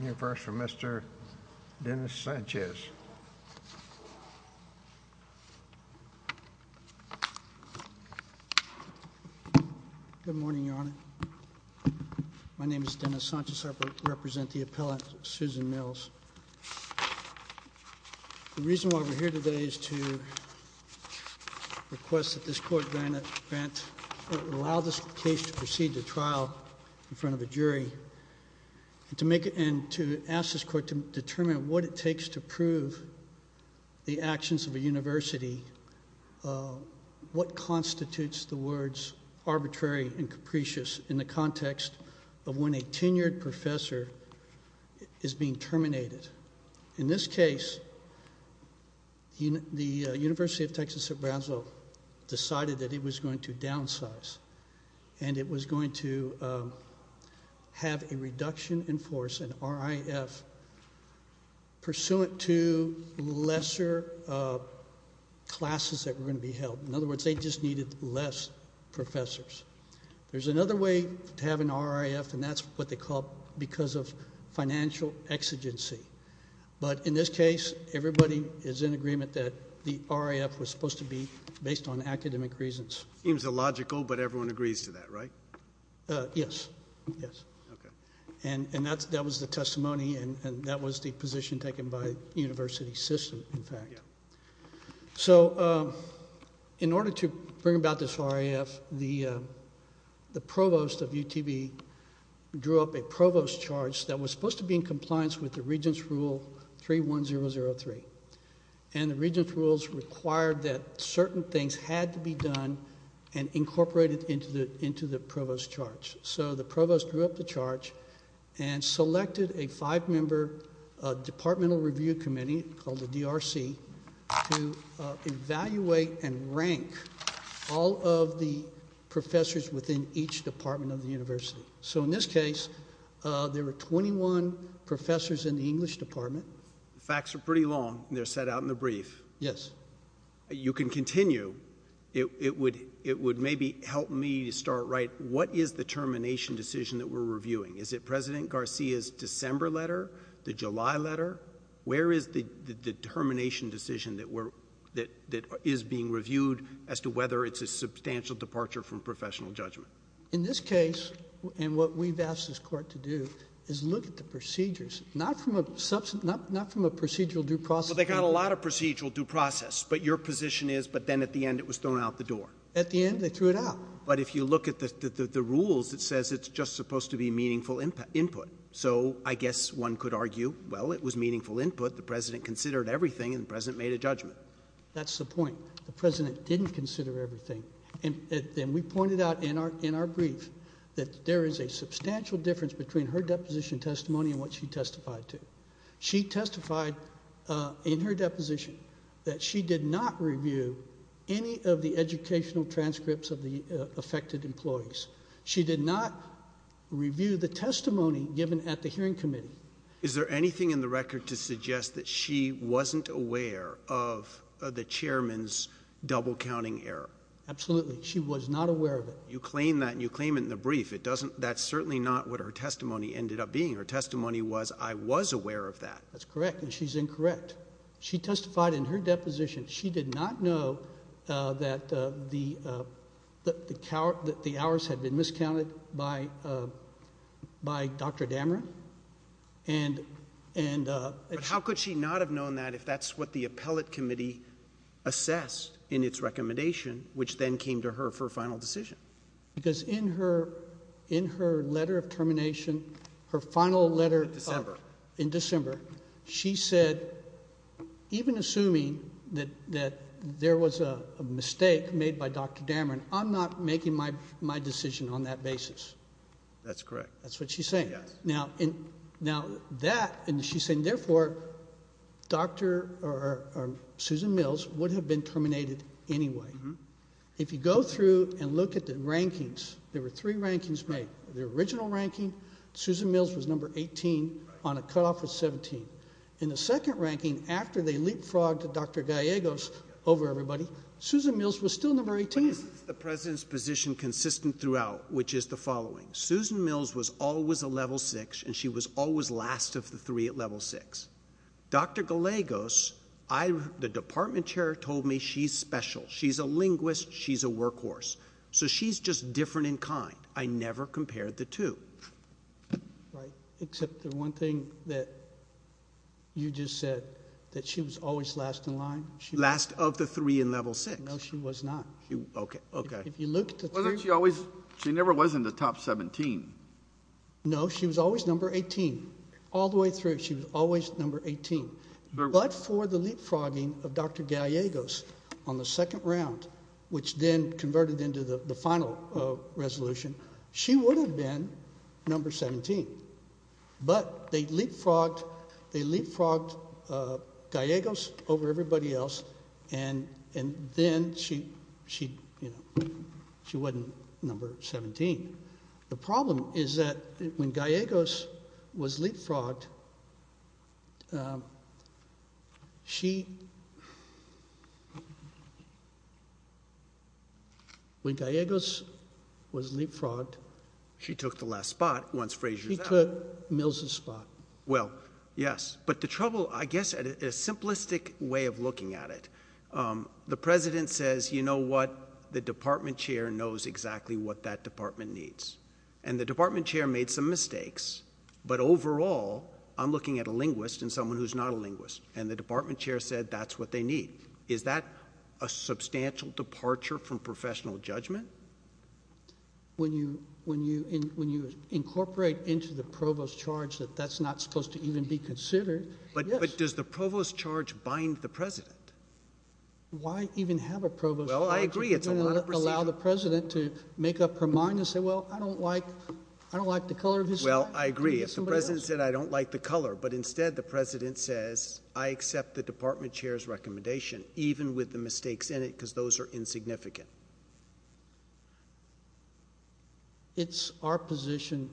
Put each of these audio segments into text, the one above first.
Here first for Mr. Dennis Sanchez Good morning your honor, my name is Dennis Sanchez, I represent the appellant Susan Mills. The reason why we're here today is to request that this court grant, allow this case to proceed to trial in front of a jury and to make it and to ask this court to determine what it takes to prove the actions of a university, what being terminated. In this case, the University of Texas at Brownsville decided that it was going to downsize and it was going to have a reduction in force, an RIF, pursuant to lesser classes that were going to be held. In other words, they just needed less professors. There's another way to have an RIF and that's what they call it because of financial exigency. But in this case, everybody is in agreement that the RIF was supposed to be based on academic reasons. Seems illogical, but everyone agrees to that, right? Yes, yes. And that was the testimony and that was the position taken by the university system in fact. So in order to bring about this RIF, the provost of UTB drew up a provost charge that was supposed to be in compliance with the Regents' Rule 31003. And the Regents' Rules required that certain things had to be done and incorporated into the provost charge. So the provost drew up the charge and selected a five-member departmental review committee called the DRC to evaluate and rank all of the professors within each department of the university. So in this case, there were 21 professors in the English department. The facts are pretty long and they're set out in the brief. Yes. You can continue. It would maybe help me to start, right, what is the termination decision that we're reviewing? Is it President Garcia's December letter, the July letter? Where is the termination decision that is being reviewed as to whether it's a substantial departure from professional judgment? In this case, and what we've asked this Court to do, is look at the procedures, not from a procedural due process standpoint. Well, they got a lot of procedural due process, but your position is, but then at the end it was thrown out the door. At the end, they threw it out. But if you look at the rules, it says it's just supposed to be meaningful input. So I guess one could argue, well, it was meaningful input. The President considered everything and the President made a judgment. That's the point. The President didn't consider everything. And we pointed out in our brief that there is a substantial difference between her deposition testimony and what she testified to. She testified in her deposition that she did not review any of the educational transcripts of the affected employees. She did not review the testimony given at the hearing committee. Is there anything in the record to suggest that she wasn't aware of the Chairman's double counting error? Absolutely. She was not aware of it. You claim that, and you claim it in the brief. That's certainly not what her testimony ended up being. Her testimony was, I was aware of that. That's correct, and she's incorrect. She testified in her deposition. She did not know that the hours had been miscounted by Dr. Dameron. How could she not have known that if that's what the appellate committee assessed in its recommendation, which then came to her for a final decision? Because in her letter of assuming that there was a mistake made by Dr. Dameron, I'm not making my decision on that basis. That's correct. That's what she's saying. Now, that, and she's saying therefore, Susan Mills would have been terminated anyway. If you go through and look at the rankings, there were three rankings made. The original ranking, Susan Mills was number 18 on a cutoff of 17. In the second ranking, after they leapfrogged Dr. Gallegos over everybody, Susan Mills was still number 18. But isn't the President's position consistent throughout, which is the following? Susan Mills was always a level six, and she was always last of the three at level six. Dr. Gallegos, I, the department chair told me she's special. She's a linguist. She's a workhorse. So she's just different in kind. I never compared the two. Right, except the one thing that you just said, that she was always last in line. Last of the three in level six. No, she was not. Okay. Okay. If you look at the two. Wasn't she always, she never was in the top 17. No, she was always number 18. All the way through, she was always number 18. But for the leapfrogging of Dr. Gallegos on the second round, which then converted into the final resolution, she would have been number 17. But they leapfrogged Gallegos over everybody else, and then she, you know, she wasn't number 17. The problem is that when Gallegos was leapfrogged, she... When Gallegos was leapfrogged, she took the last spot once Frazier's out. She took Mills's spot. Well, yes. But the trouble, I guess, a simplistic way of looking at it, the president says, you know what, the department chair knows exactly what that department needs. And the department chair made some mistakes. But overall, I'm looking at a linguist and someone who's not a linguist. And the department chair said, that's what they need. Is that a substantial departure from professional judgment? When you incorporate into the provost charge that that's not supposed to even be considered, yes. But does the provost charge bind the president? Why even have a provost charge? Well, I agree, it's a lot of procedure. You're going to allow the president to make up her mind and say, well, I don't like the color of his... Well, I agree. If the president said, I don't like the color, but instead the president says, I accept the department chair's recommendation, even with the mistakes in it, because those are insignificant. It's our position,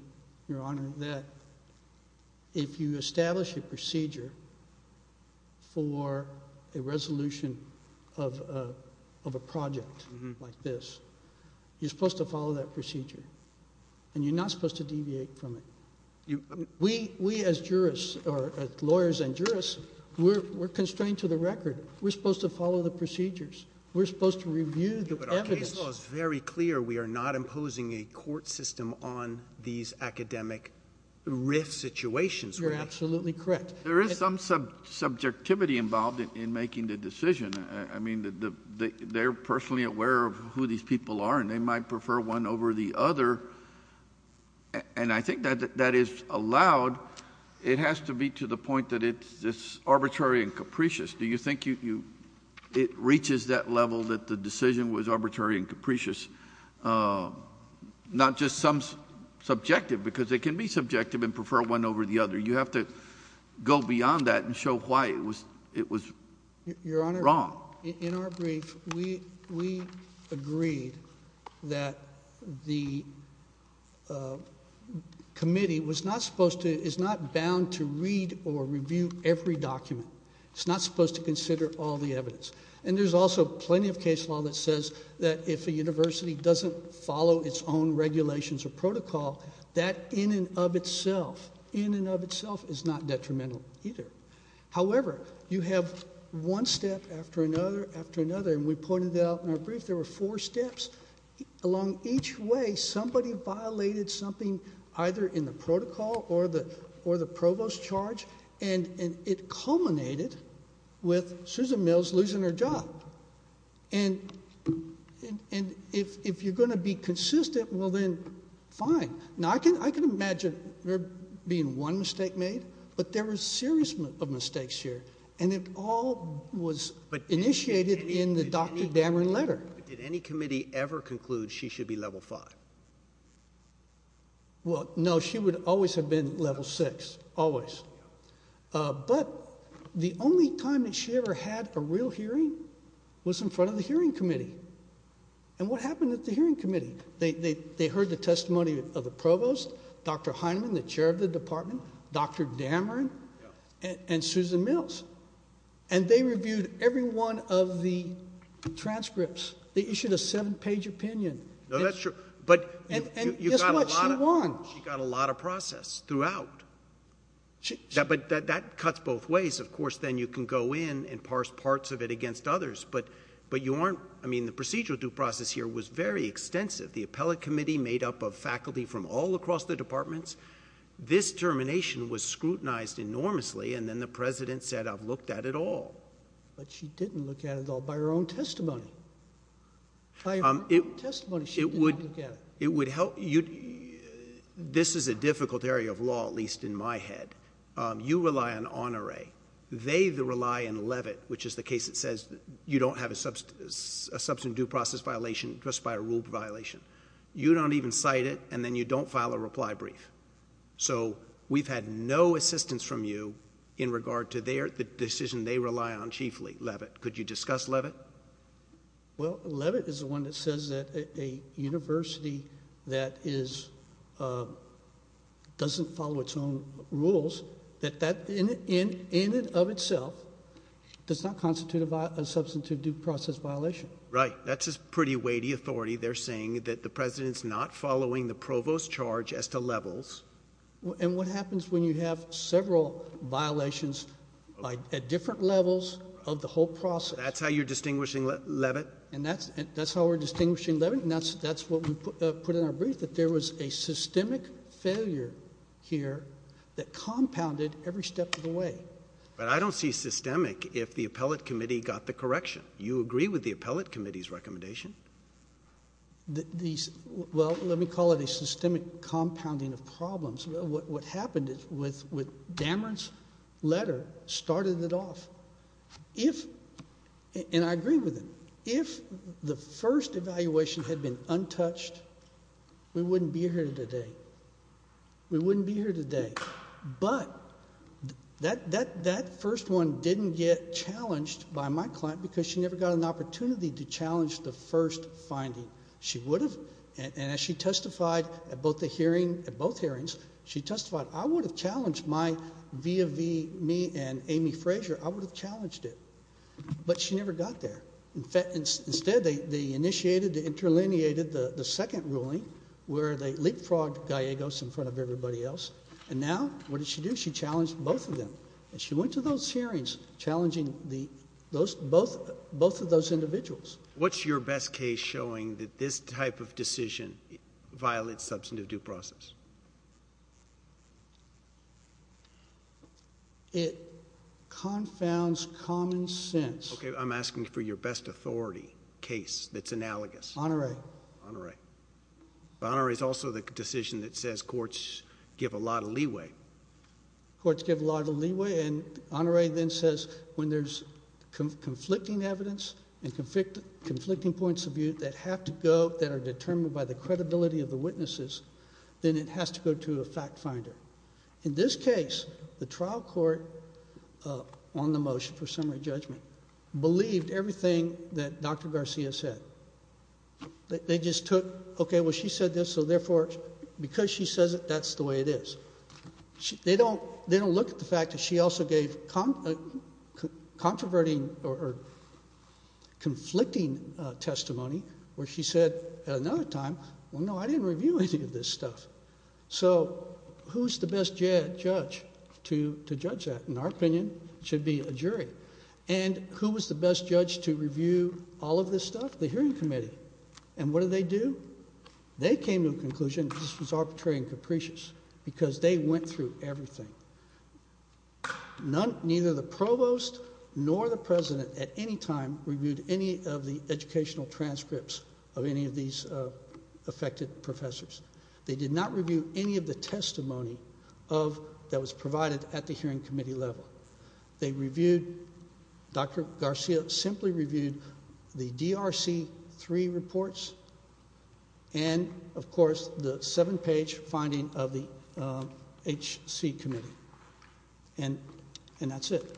your honor, that if you establish a procedure for a resolution of a project like this, you're supposed to follow that procedure. You're supposed to review the evidence. But our case law is very clear. We are not imposing a court system on these academic RIF situations. You're absolutely correct. There is some subjectivity involved in making the decision. I mean, they're personally aware of who these people are and they might prefer one over the other. And I think that is allowed. It has to be to the point that it's arbitrary and capricious. Do you think it reaches that level that the decision was arbitrary and capricious? Not just some subjective, because they can be subjective and prefer one over the other. You have to go beyond that and show why it was wrong. Your honor, in our brief, we agreed that the committee was not supposed to, is not bound to read or review every document. It's not supposed to consider all the evidence. And there's also plenty of case law that says that if a university doesn't follow its own regulations or protocol, that in and of itself, in and of itself is not detrimental either. However, you have one step after another after another, and we pointed out in our brief there were four steps. Along each way, somebody violated something either in the protocol or the provost charge, and it culminated with Susan Mills losing her job. And if you're going to be consistent, well then, fine. Now, I can imagine there being one mistake made, but there were a series of mistakes here, and it all was initiated in the Dr. Dameron letter. But did any committee ever conclude she should be level five? Well, no. She would always have been level six. Always. But the only time that she ever had a real hearing was in front of the hearing committee. And what happened at the hearing committee? They heard the testimony of the provost, Dr. Heinemann, the chair of the department, Dr. Dameron, and Susan Mills. And they reviewed every one of the transcripts. They issued a seven-page opinion. No, that's true. And guess what she won? She got a lot of process throughout. But that cuts both ways. Of course, then you can go in and parse parts of it against others, but you aren't... I mean, the procedural due process here was very extensive. The appellate committee made up of faculty from all across the departments. This termination was scrutinized enormously, and then the president said, I've looked at it all. But she didn't look at it all by her own testimony. By her own testimony, she didn't look at it. It would help... this is a difficult area of law, at least in my head. You rely on Honoré. They rely on Levitt, which is the case that says you don't have a substantive due process violation just by a rule violation. You don't even cite it, and then you don't file a reply brief. So we've had no assistance from you in regard to the decision they rely on chiefly, Levitt. Could you discuss Levitt? Well, Levitt is the one that says that a university that is... doesn't follow its own rules, that that in and of itself does not constitute a substantive due process violation. Right. That's a pretty weighty authority. They're saying that the president's not following the provost's charge as to levels. And what happens when you have several violations at different levels of the whole process? That's how you're distinguishing Levitt? And that's how we're distinguishing Levitt, and that's what we put in our brief, that there was a systemic failure here that compounded every step of the way. But I don't see systemic if the appellate committee got the correction. You agree with the appellate committee's recommendation? These... well, let me call it a systemic compounding of problems. What happened is with Dameron's letter started it off. If... and I agree with it. If the first evaluation had been untouched, we wouldn't be here today. We wouldn't be here today. But that first one didn't get challenged by my client because she never got an opportunity to challenge the first finding. She would have. And as she testified at both hearings, she testified I would have challenged my... via me and Amy Frazier, I would have challenged it. But she never got there. Instead, they initiated, they interlineated the second ruling where they leapfrogged Gallegos in front of everybody else. And now, what did she do? She challenged both of them. And she went to those hearings challenging both of those individuals. What's your best case showing that this type of decision violates substantive due process? It confounds common sense. Okay. I'm asking for your best authority case that's analogous. Honore. Honore. But Honore is also the decision that says courts give a lot of leeway. Courts give a lot of leeway. And Honore then says when there's conflicting evidence and conflicting points of view that have to go, that are determined by the credibility of the witnesses, then it has to go to a fact finder. In this case, the trial court on the motion for summary judgment believed everything that Dr. Garcia said. They just took, okay, well, she said this, so therefore, because she says it, that's the way it is. They don't look at the fact that she also gave controverting or conflicting testimony where she said at another time, well, no, I didn't review any of this stuff. So who's the best judge to judge that? In our opinion, it should be a jury. And who was the best judge to review all of this stuff? The hearing committee. And what do they do? They came to a conclusion, this was arbitrary and capricious, because they went through everything. Neither the provost nor the president at any time reviewed any of the educational transcripts of any of these affected professors. They did not review any of the testimony that was provided at the hearing committee level. They reviewed, Dr. Garcia simply reviewed the DRC-3 reports and, of course, the seven-page finding of the HC committee. And that's it.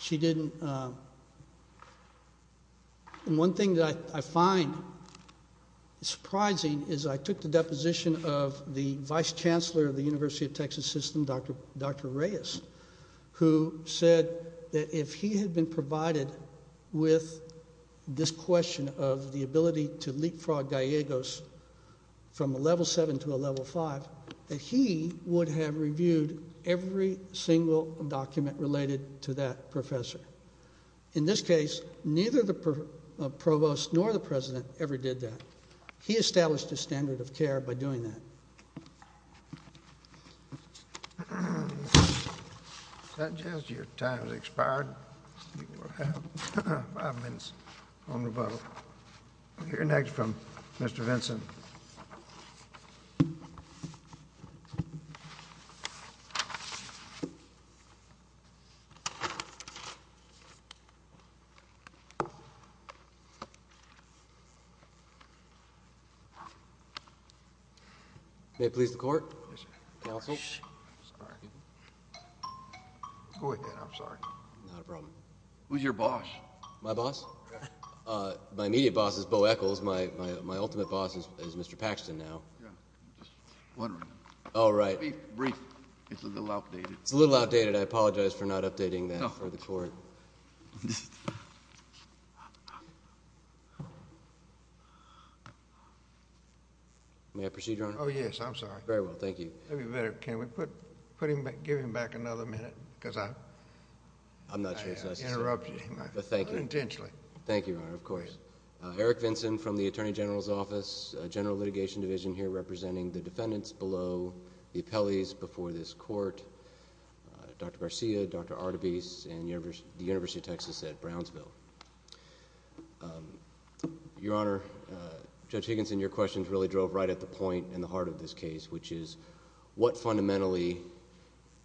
She didn't, and one thing that I find surprising is I took the deposition of the vice chancellor of the University of Texas System, Dr. Reyes, who said that if he had been provided with this question of the ability to leapfrog Gallegos from a level 7 to a level 5, that he would have reviewed every single document related to that professor. In this case, neither the provost nor the president ever did that. He never did. Go ahead. I'm sorry. Not a problem. Who's your boss? My boss? My immediate boss is Bo Echols. My ultimate boss is Mr. Paxton now. Yeah, I'm just wondering. Oh, right. Brief, brief. It's a little outdated. It's a little outdated. I apologize for not updating that for the court. May I proceed, Your Honor? Oh, yes. I'm sorry. Very well. Thank you. It would be better if we could give him back another minute, because I interrupted him unintentionally. Thank you, Your Honor. Of course. Eric Vinson from the Attorney General's Office, General Litigation Division, here representing the defendants below, the appellees before this court, Dr. Garcia, Dr. Artebis, and the University of Texas at Brownsville. Your Honor, Judge Artebis, what fundamentally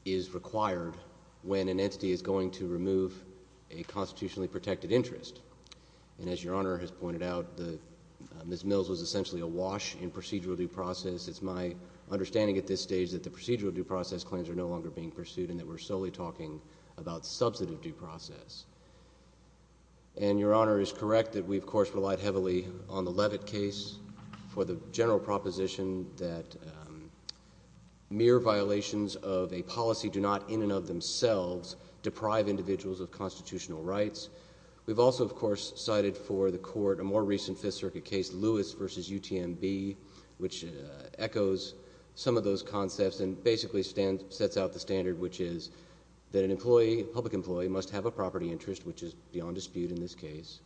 is required when an entity is going to remove a constitutionally protected interest? And as Your Honor has pointed out, Ms. Mills was essentially a wash in procedural due process. It's my understanding at this stage that the procedural due process claims are no longer being pursued and that we're solely talking about substantive due process. And Your Honor is correct that we, of course, relied heavily on the Levitt case for the general proposition that mere violations of a policy do not, in and of themselves, deprive individuals of constitutional rights. We've also, of course, cited for the court a more recent Fifth Circuit case, Lewis v. UTMB, which echoes some of those concepts and basically sets out the standard, which is that an employee, a public employee, must have a property interest, which is beyond dispute in this case,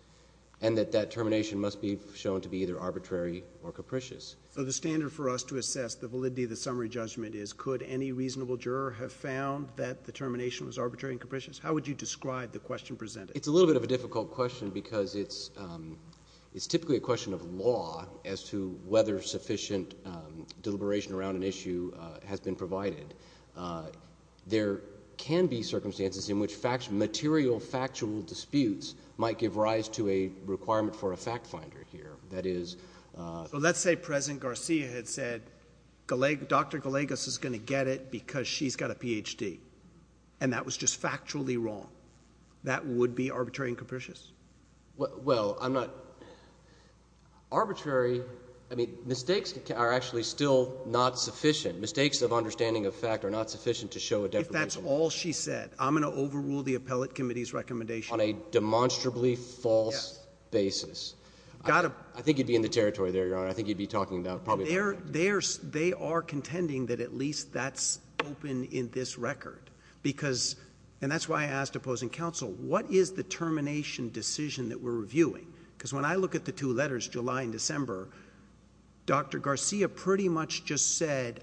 and that that termination must be shown to be either arbitrary or capricious. So the standard for us to assess the validity of the summary judgment is could any reasonable juror have found that the termination was arbitrary and capricious? How would you describe the question presented? It's a little bit of a difficult question because it's typically a question of law as to whether sufficient deliberation around an issue has been provided. There can be circumstances in which material factual disputes might give rise to a requirement for a fact finder here. That is — So let's say President Garcia had said Dr. Gallegos is going to get it because she's got a Ph.D., and that was just factually wrong. That would be arbitrary and capricious? Well, I'm not — arbitrary — I mean, mistakes are actually still not sufficient. Mistakes of understanding of fact are not sufficient to show a deprivation. That's all she said. I'm going to overrule the appellate committee's recommendation. On a demonstrably false basis. Yes. I think you'd be in the territory there, Your Honor. I think you'd be talking about probably — They are contending that at least that's open in this record because — and that's why I asked opposing counsel, what is the termination decision that we're reviewing? Because when I look at the two letters, July and December, Dr. Garcia pretty much just Right?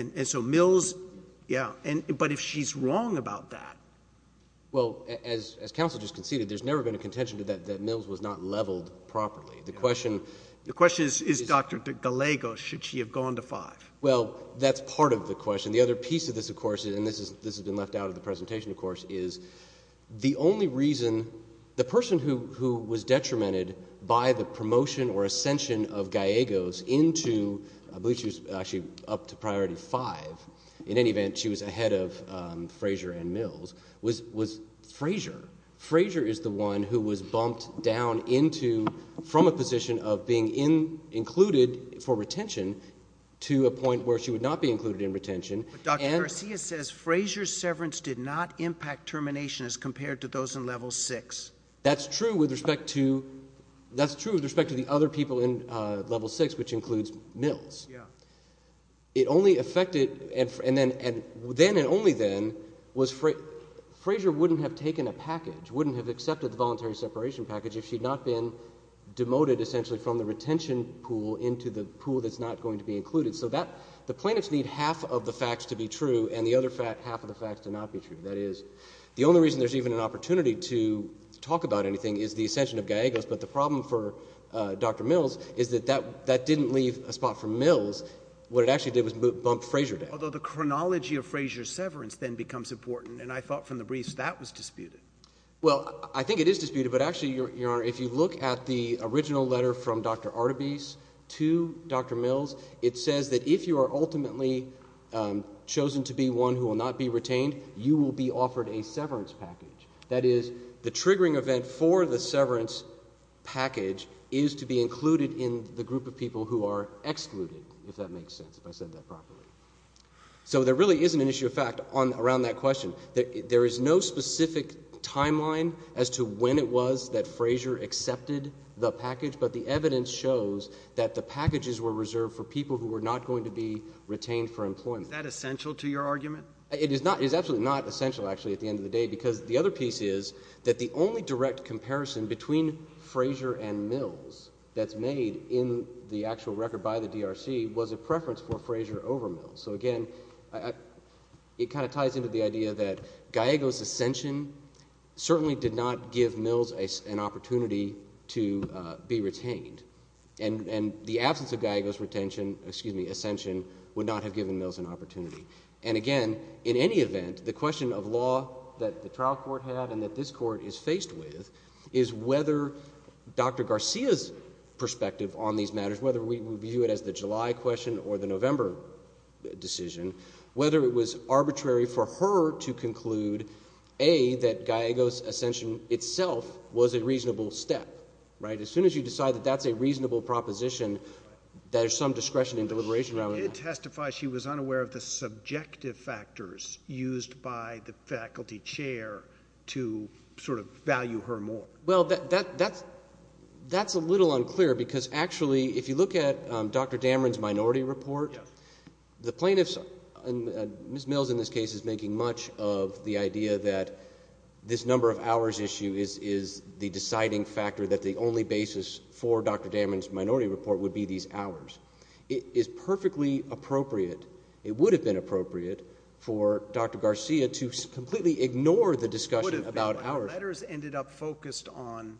And so Mills — yeah. But if she's wrong about that — Well, as counsel just conceded, there's never been a contention that Mills was not leveled properly. The question — The question is, is Dr. Gallegos — should she have gone to five? Well, that's part of the question. The other piece of this, of course — and this has been left out of the presentation, of course — is the only reason — the person who actually up to priority five — in any event, she was ahead of Frazier and Mills — was Frazier. Frazier is the one who was bumped down into — from a position of being included for retention to a point where she would not be included in retention. But Dr. Garcia says Frazier's severance did not impact termination as compared to those in level six. That's true with respect to — that's true with respect to the other people in level six, which includes Mills. Yeah. It only affected — and then — and then and only then was — Frazier wouldn't have taken a package, wouldn't have accepted the voluntary separation package if she'd not been demoted essentially from the retention pool into the pool that's not going to be included. So that — the plaintiffs need half of the facts to be true and the other half of the facts to not be true. That is, the only reason there's even an opportunity to talk about anything is the ascension of Gallegos. But the problem for Dr. Mills is that that — that didn't leave a spot for Mills. What it actually did was bump Frazier down. Although the chronology of Frazier's severance then becomes important, and I thought from the briefs that was disputed. Well, I think it is disputed, but actually, Your Honor, if you look at the original letter from Dr. Artebis to Dr. Mills, it says that if you are ultimately chosen to be one who will not be retained, you will be offered a severance package. That is, the triggering event for the severance package is to be included in the group of people who are excluded, if that makes sense, if I said that properly. So there really isn't an issue of fact on — around that question. There is no specific timeline as to when it was that Frazier accepted the package, but the evidence shows that the packages were reserved for people who were not going to be retained for employment. Is that essential to your argument? It is not. It is absolutely not essential, actually, at the end of the day, because the only direct comparison between Frazier and Mills that is made in the actual record by the DRC was a preference for Frazier over Mills. So again, it kind of ties into the idea that Gallego's ascension certainly did not give Mills an opportunity to be retained, and the absence of Gallego's retention — excuse me — ascension would not have given Mills an opportunity. And again, in any event, the question of law that the trial court had and that this court is faced with is whether Dr. Garcia's perspective on these matters, whether we view it as the July question or the November decision, whether it was arbitrary for her to conclude, A, that Gallego's ascension itself was a reasonable step. Right? As soon as you decide that that's a reasonable proposition, there's some discretion and deliberation around that. She did testify she was unaware of the subjective factors used by the faculty chair to sort of value her more. Well, that's a little unclear, because actually, if you look at Dr. Dameron's minority report, the plaintiffs — and Ms. Mills in this case is making much of the idea that this number of hours issue is the deciding factor, that the only basis for Dr. Dameron's minority report would be these hours. It is perfectly appropriate — it would have been appropriate for Dr. Garcia to completely ignore the discussion about hours. It would have been, but her letters ended up focused on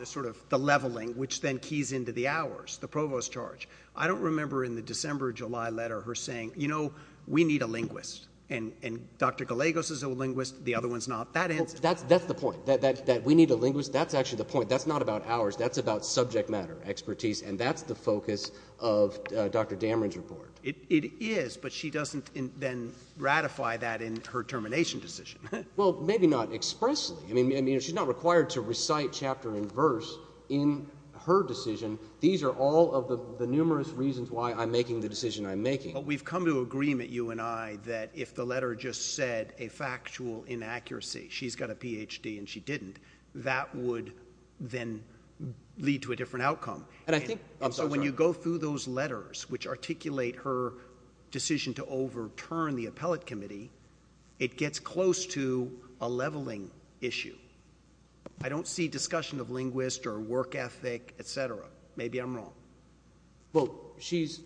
this sort of — the leveling, which then keys into the hours, the provost charge. I don't remember in the December-July letter her saying, you know, we need a linguist, and Dr. Gallego's is a linguist, the other one's not. That ends it. That's the point, that we need a linguist. That's actually the point. That's not about hours. That's about subject matter expertise, and that's the focus of Dr. Dameron's report. It is, but she doesn't then ratify that in her termination decision. Well, maybe not expressly. I mean, she's not required to recite chapter and verse in her decision. These are all of the numerous reasons why I'm making the decision I'm making. But we've come to agreement, you and I, that if the letter just said a factual inaccuracy — she's got a Ph.D. and she didn't — that would then lead to a different outcome. And I think — I'm sorry. So when you go through those letters, which articulate her decision to overturn the appellate committee, it gets close to a leveling issue. I don't see discussion of linguist or work ethic, et cetera. Maybe I'm wrong. Well, she's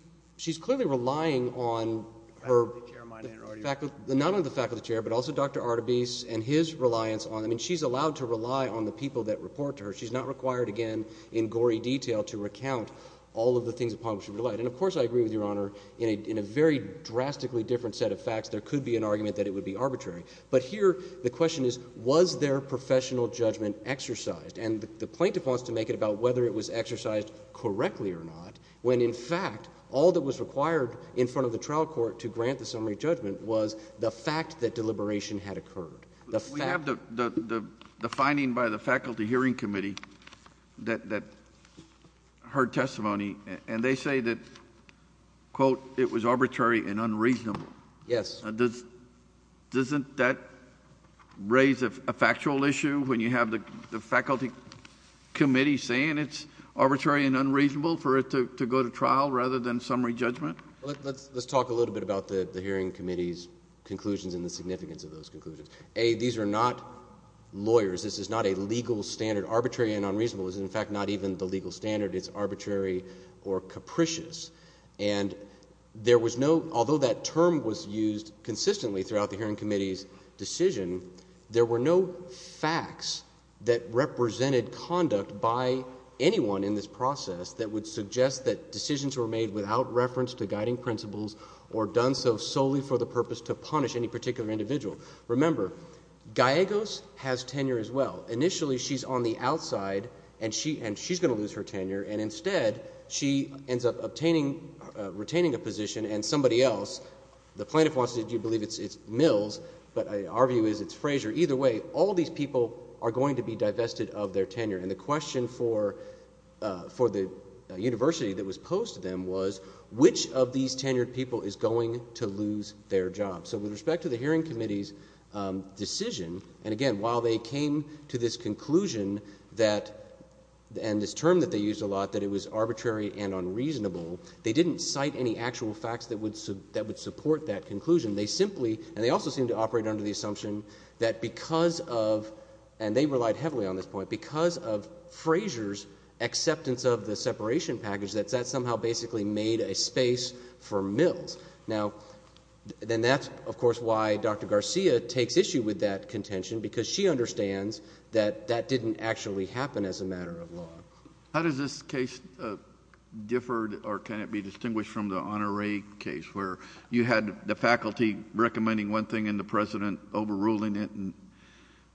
clearly relying on her — Faculty chair, my name. Faculty — not only the faculty chair, but also Dr. Artebis and his reliance on — I mean, she's allowed to rely on the people that report to her. She's not required, again, in gory detail, to recount all of the things upon which she relied. And, of course, I agree with Your Honor, in a very drastically different set of facts there could be an argument that it would be arbitrary. But here, the question is, was their professional judgment exercised? And the plaintiff wants to make it about whether it was exercised correctly or not, when, in fact, all that was required in front of the summary judgment was the fact that deliberation had occurred. We have the finding by the faculty hearing committee that her testimony — and they say that, quote, it was arbitrary and unreasonable. Yes. Doesn't that raise a factual issue, when you have the faculty committee saying it's arbitrary and unreasonable for it to go to trial, rather than summary judgment? Let's talk a little bit about the hearing committee's conclusions and the significance of those conclusions. A, these are not lawyers. This is not a legal standard. Arbitrary and unreasonable is, in fact, not even the legal standard. It's arbitrary or capricious. And there was no — although that term was used consistently throughout the hearing committee's decision, there were no facts that represented conduct by anyone in this or done so solely for the purpose to punish any particular individual. Remember, Gallegos has tenure as well. Initially, she's on the outside, and she's going to lose her tenure, and instead, she ends up obtaining — retaining a position, and somebody else — the plaintiff wants to believe it's Mills, but our view is it's Fraser. Either way, all these people are going to be divested of their tenure. And the question for the university that was posed to them was, which of these tenured people is going to lose their job? So with respect to the hearing committee's decision, and again, while they came to this conclusion that — and this term that they used a lot, that it was arbitrary and unreasonable, they didn't cite any actual facts that would support that conclusion. They simply — and they also seemed to operate under the assumption that because of — and they relied heavily on this point — because of Fraser's acceptance of the separation package, that that somehow basically made a space for Mills. Now, then that's, of course, why Dr. Garcia takes issue with that contention, because she understands that that didn't actually happen as a matter of law. JUSTICE KENNEDY How does this case differ or can it be distinguished from the Honoré case, where you had the faculty recommending one thing and the President overruling it, and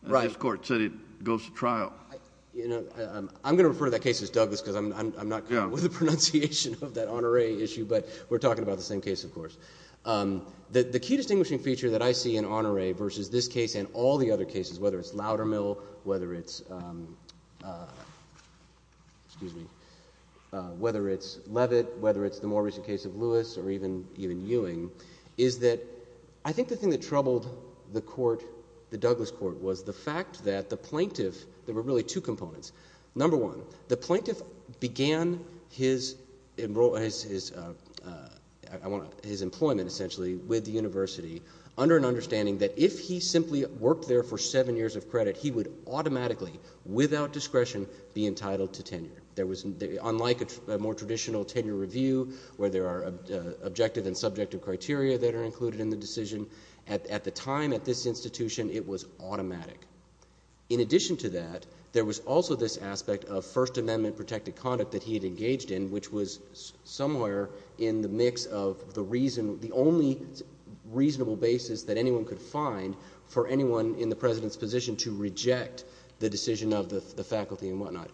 this Court said it goes to trial? MR. CHAUNCEY I'm going to refer to that case as Douglas, because I'm not good with the pronunciation of that Honoré issue, but we're talking about the same case, of course. The key distinguishing feature that I see in Honoré versus this case and all the other cases, whether it's Loudermill, whether it's — excuse me — whether it's Levitt, whether it's the more recent case of Lewis or even Ewing, is that I think the thing that troubled the Court, the Douglas Court, was the fact that the plaintiff — there were really two components. Number one, the plaintiff began his — I want to — his employment, essentially, with the university under an understanding that if he simply worked there for seven years of credit, he would automatically, without discretion, be entitled to tenure. There was — unlike a more traditional tenure review, where there are objective and subjective criteria that are included in the decision, at the time, at this institution, it was automatic. In addition to that, there was also this aspect of First Amendment protected conduct that he had engaged in, which was somewhere in the mix of the reason — the only reasonable basis that anyone could find for anyone in the President's position to reject the decision of the faculty and whatnot.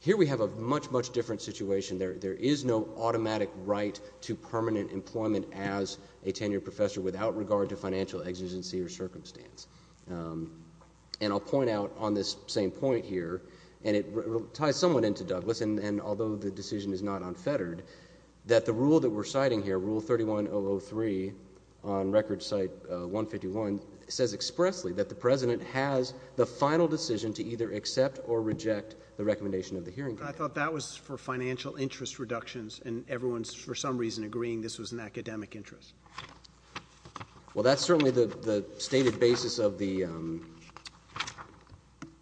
Here we have a much, much different situation. There is no automatic right to permanent employment as a tenured professor without regard to financial exigency or circumstance. And I'll point out on this same point here, and it ties somewhat into Douglas, and although the decision is not unfettered, that the rule that we're citing here, Rule 31003 on Record 151, says expressly that the President has the final decision to either accept or reject the recommendation of the hearing committee. I thought that was for financial interest reductions, and everyone's, for some reason, agreeing this was an academic interest. Well, that's certainly the stated basis of the —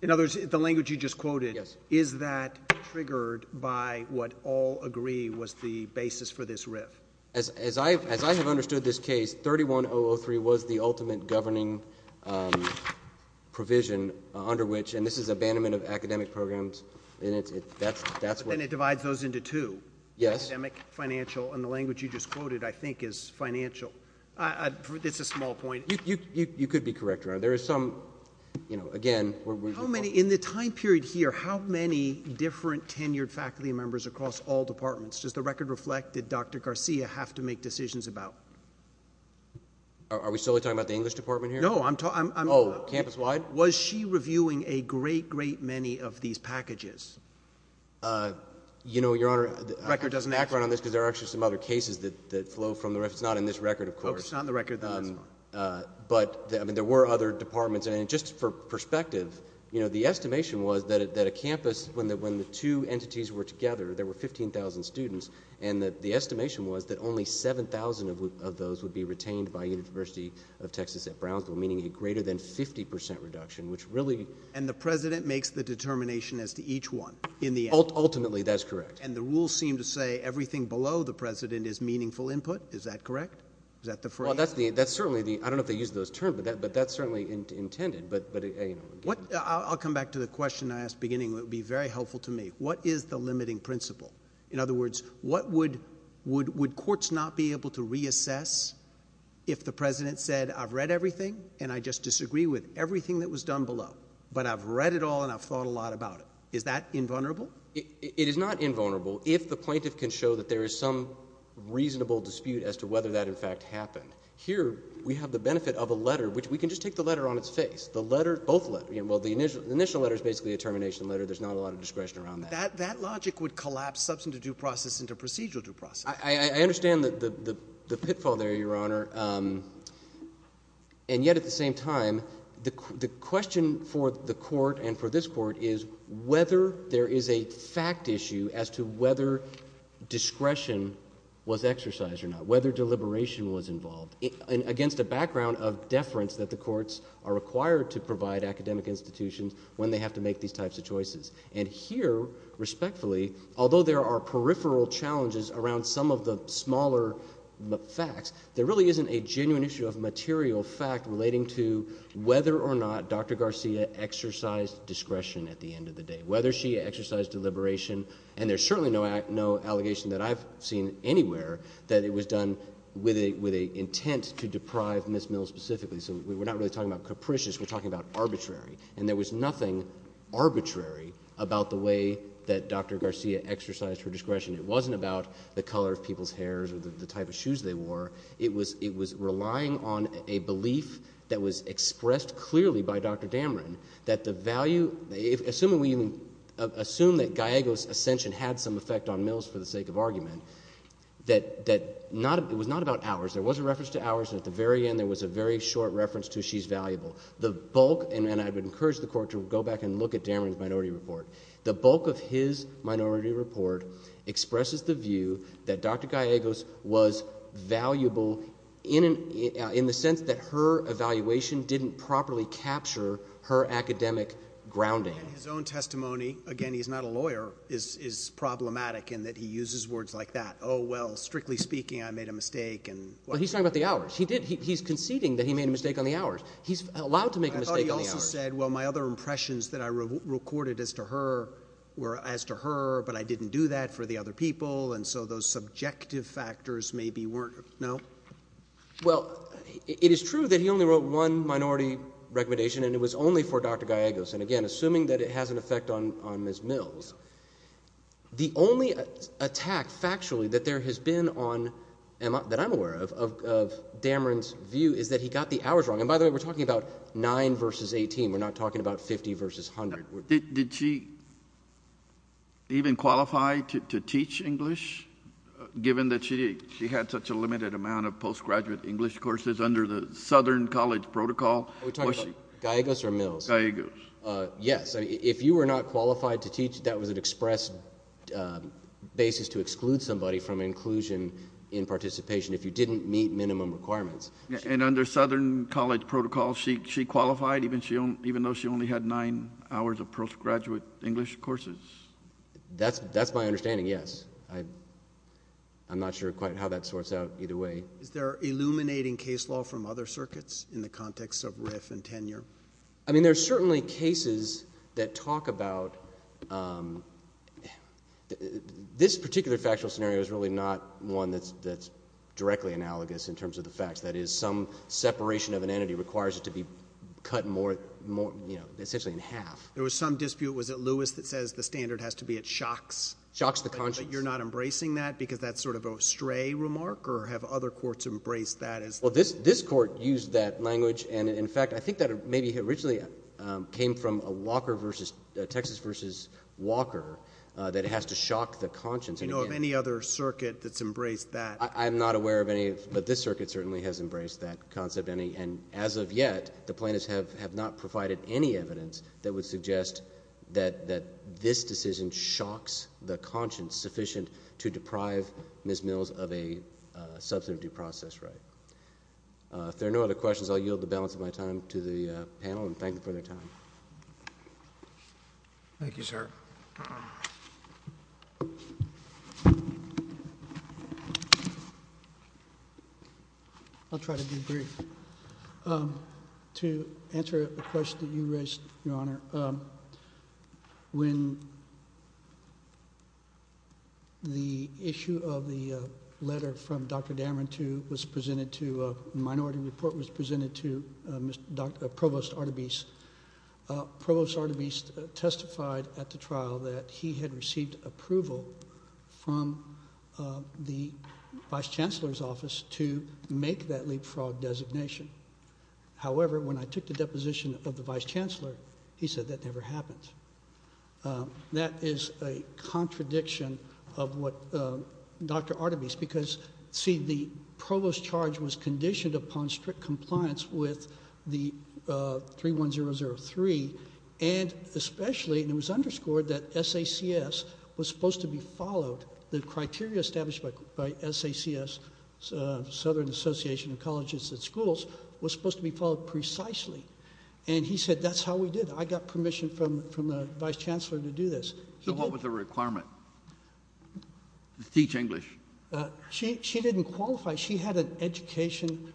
In other words, the language you just quoted — Yes. — is that triggered by what all agree was the basis for this riff? As I have understood this case, 31003 was the ultimate governing provision under which — and this is abandonment of academic programs, and that's what — And it divides those into two. Yes. Academic, financial, and the language you just quoted, I think, is financial. It's a small point. You could be correct. There is some, you know, again — How many — in the time period here, how many different tenured faculty members across all departments? Does the record reflect, did Dr. Garcia have to make decisions about? Are we solely talking about the English department here? No. I'm — Oh, campus-wide? Was she reviewing a great, great many of these packages? You know, Your Honor — The record doesn't —— background on this, because there are actually some other cases that flow from the — It's not in this record, of course. Oh, it's not in the record, then. That's fine. But, I mean, there were other departments, and just for perspective, you know, the estimation was that a campus, when the two entities were together, there were 15,000 students, and that the estimation was that only 7,000 of those would be retained by University of Texas at Brownsville, meaning a greater than 50 percent reduction, which really — And the president makes the determination as to each one, in the end. Ultimately, that's correct. And the rules seem to say everything below the president is meaningful input. Is that correct? Is that the phrase? Well, that's the — that's certainly the — I don't know if they use those terms, but that's certainly intended, but, you know — I'll come back to the question I asked beginning. It would be very helpful to me. What is the limiting principle? In other words, what would — would courts not be able to reassess if the president said, I've read everything, and I just disagree with everything that was done below, but I've read it all, and I've thought a lot about it? Is that invulnerable? It is not invulnerable if the plaintiff can show that there is some reasonable dispute as to whether that, in fact, happened. Here, we have the benefit of a letter, which we can just take the letter on its face. The letter — both letters. Well, the initial letter is basically a termination letter. There's not a lot of discretion around that. That logic would collapse substantive due process into procedural due process. I understand the pitfall there, Your Honor. And yet, at the same time, the question for the Court and for this Court is whether there is a fact issue as to whether discretion was exercised or not, whether deliberation was involved, against a background of deference that the courts are required to provide academic institutions when they have to make these types of choices. And here, respectfully, although there are peripheral challenges around some of the smaller facts, there really isn't a genuine issue of material fact relating to whether or not Dr. Garcia exercised discretion at the end of the day, whether she exercised deliberation. And there's certainly no allegation that I've seen anywhere that it was done with an intent to deprive Ms. Mills specifically. So we're not really talking about capricious. We're talking about arbitrary. And there was nothing arbitrary about the way that Dr. Garcia exercised her discretion. It wasn't about the color of people's hairs or the type of shoes they wore. It was relying on a belief that was expressed clearly by Dr. Dameron that the value — assuming that Gallego's ascension had some effect on Mills for the sake of argument, that it was not about hours. There was a reference to hours, and at the very end there was a very short reference to she's valuable. The bulk — and I would encourage the Court to go back and look at Dameron's minority report. The bulk of his minority report expresses the view that Dr. Gallego's was valuable in the sense that her evaluation didn't properly capture her academic grounding. And his own testimony — again, he's not a lawyer — is problematic in that he uses words like that. Oh, well, strictly speaking, I made a mistake and — Well, he's talking about the hours. He did — he's conceding that he made a mistake on the hours. He's allowed to make a mistake on the hours. I thought he also said, well, my other impressions that I recorded as to her were as to her, but I didn't do that for the other people, and so those subjective factors maybe weren't — no? Well, it is true that he only wrote one minority recommendation, and it was only for Dr. Gallego's. And again, assuming that it has an effect on Ms. Mills, the only attack factually that there has been on — that I'm aware of — of Dameron's view is that he got the hours wrong. And by the way, we're talking about 9 versus 18. We're not talking about 50 versus 100. Did she even qualify to teach English, given that she had such a limited amount of postgraduate English courses under the Southern College protocol? Are we talking about Gallego's or Mills? Gallego's. Yes. If you were not qualified to teach, that was an express basis to exclude somebody from inclusion in participation if you didn't meet minimum requirements. And under Southern College protocol, she qualified even though she only had 9 hours of postgraduate English courses? That's my understanding, yes. I'm not sure quite how that sorts out either way. Is there illuminating case law from other circuits in the context of RIF and tenure? I mean, there are certainly cases that talk about — this particular factual scenario is really not one that's directly analogous in terms of the facts. That is, some separation of an entity requires it to be cut more — you know, essentially in half. There was some dispute. Was it Lewis that says the standard has to be it shocks — Shocks the conscience. But you're not embracing that because that's sort of a stray remark? Or have other courts embraced that as — Well, this court used that language. And in fact, I think that maybe originally came from a Walker versus — Texas versus Walker that has to shock the conscience. Do you know of any other circuit that's embraced that? I'm not aware of any, but this circuit certainly has embraced that concept. And as of yet, the plaintiffs have not provided any evidence that would suggest that this decision shocks the conscience sufficient to deprive Ms. Mills of a substantive due process right. If there are no other questions, I'll yield the balance of my time to the panel and thank them for their time. Thank you, sir. I'll try to be brief. To answer a question that you raised, Your Honor, when the issue of the letter from Dr. Dameron to — was presented to — a minority report was presented to Mr. — Provost Artebiste, Provost Artebiste testified at the trial that he had received approval from the vice chancellor's office to make that leapfrog designation. However, when I took the deposition of the vice chancellor, he said that never happened. That is a contradiction of what Dr. Artebiste — because, see, the provost's charge was 003, and especially — and it was underscored that SACS was supposed to be followed. The criteria established by SACS, Southern Association of Colleges and Schools, was supposed to be followed precisely. And he said, that's how we did it. I got permission from the vice chancellor to do this. So what was the requirement? Teach English. She didn't qualify. She had an education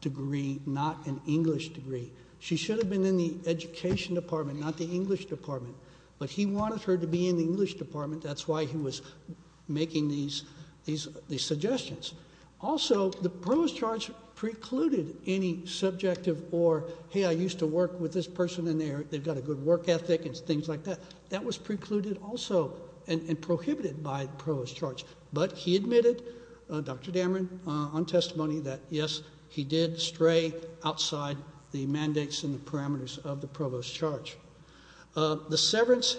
degree, not an English degree. She should have been in the education department, not the English department. But he wanted her to be in the English department. That's why he was making these suggestions. Also, the provost's charge precluded any subjective or, hey, I used to work with this person, and they've got a good work ethic and things like that. But he admitted, Dr. Dameron, on testimony, that, yes, he did stray outside the mandates and the parameters of the provost's charge. The severance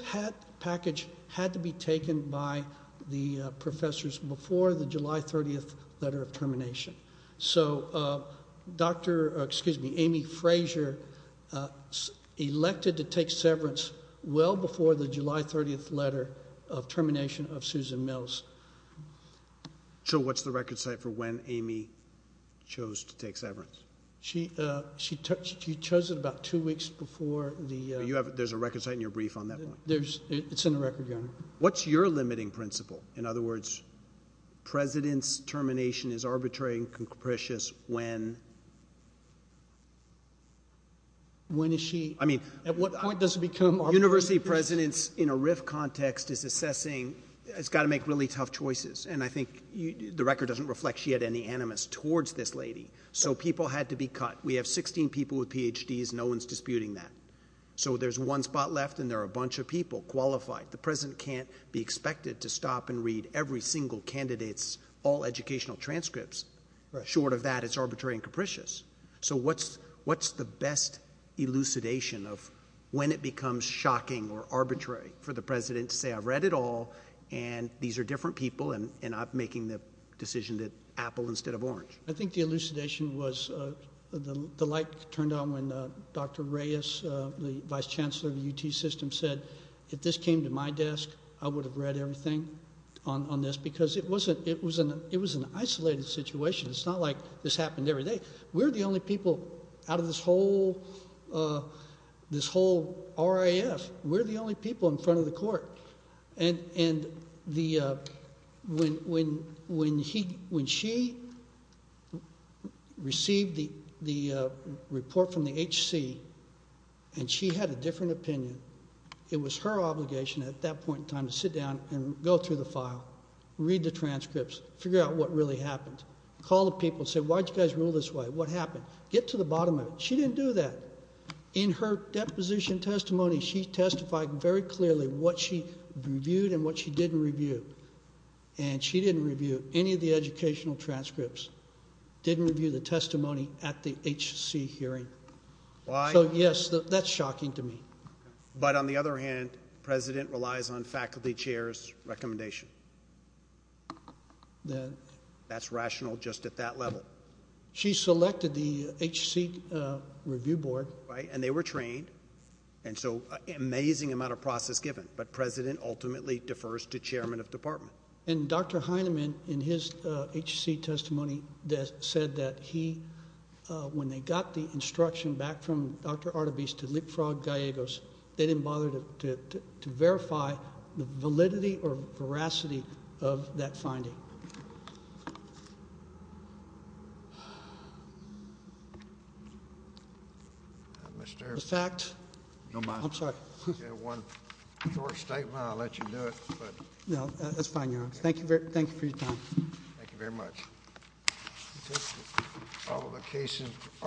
package had to be taken by the professors before the July 30th letter of termination. So Dr. — excuse me, Amy Fraser elected to take severance well before the July 30th letter of termination of Susan Mills. So what's the record set for when Amy chose to take severance? She chose it about two weeks before the — There's a record set in your brief on that one. It's in the record, Your Honor. What's your limiting principle? In other words, president's termination is arbitrary and capricious when — When is she — I mean — At what point does it become arbitrary? Well, the university president's, in a RIF context, is assessing — has got to make really tough choices. And I think the record doesn't reflect she had any animus towards this lady. So people had to be cut. We have 16 people with PhDs. No one's disputing that. So there's one spot left, and there are a bunch of people qualified. The president can't be expected to stop and read every single candidate's all-educational transcripts. Short of that, it's arbitrary and capricious. So what's the best elucidation of when it becomes shocking or arbitrary for the president to say, I've read it all, and these are different people, and I'm making the decision that apple instead of orange? I think the elucidation was the light turned on when Dr. Reyes, the vice chancellor of the UT system, said, if this came to my desk, I would have read everything on this. Because it was an isolated situation. It's not like this happened every day. We're the only people out of this whole RAF. We're the only people in front of the court. And when she received the report from the HC, and she had a different opinion, it was her obligation at that point in time to sit down and go through the file, read the transcripts, figure out what really happened. Call the people and say, why did you guys rule this way? What happened? Get to the bottom of it. She didn't do that. In her deposition testimony, she testified very clearly what she reviewed and what she didn't review. And she didn't review any of the educational transcripts. Didn't review the testimony at the HC hearing. Why? So yes, that's shocking to me. But on the other hand, the president relies on faculty chairs' recommendation. That's rational. That's rational just at that level. She selected the HC review board. Right. And they were trained. And so amazing amount of process given. But president ultimately defers to chairman of department. And Dr. Heinemann in his HC testimony said that he, when they got the instruction back from Dr. Artebis to leapfrog Gallegos, they didn't bother to verify the validity or veracity of that finding. Mr. The fact. No, I'm sorry. You have one short statement. I'll let you do it. No, that's fine. Thank you. Thank you for your time. Thank you very much. All the cases.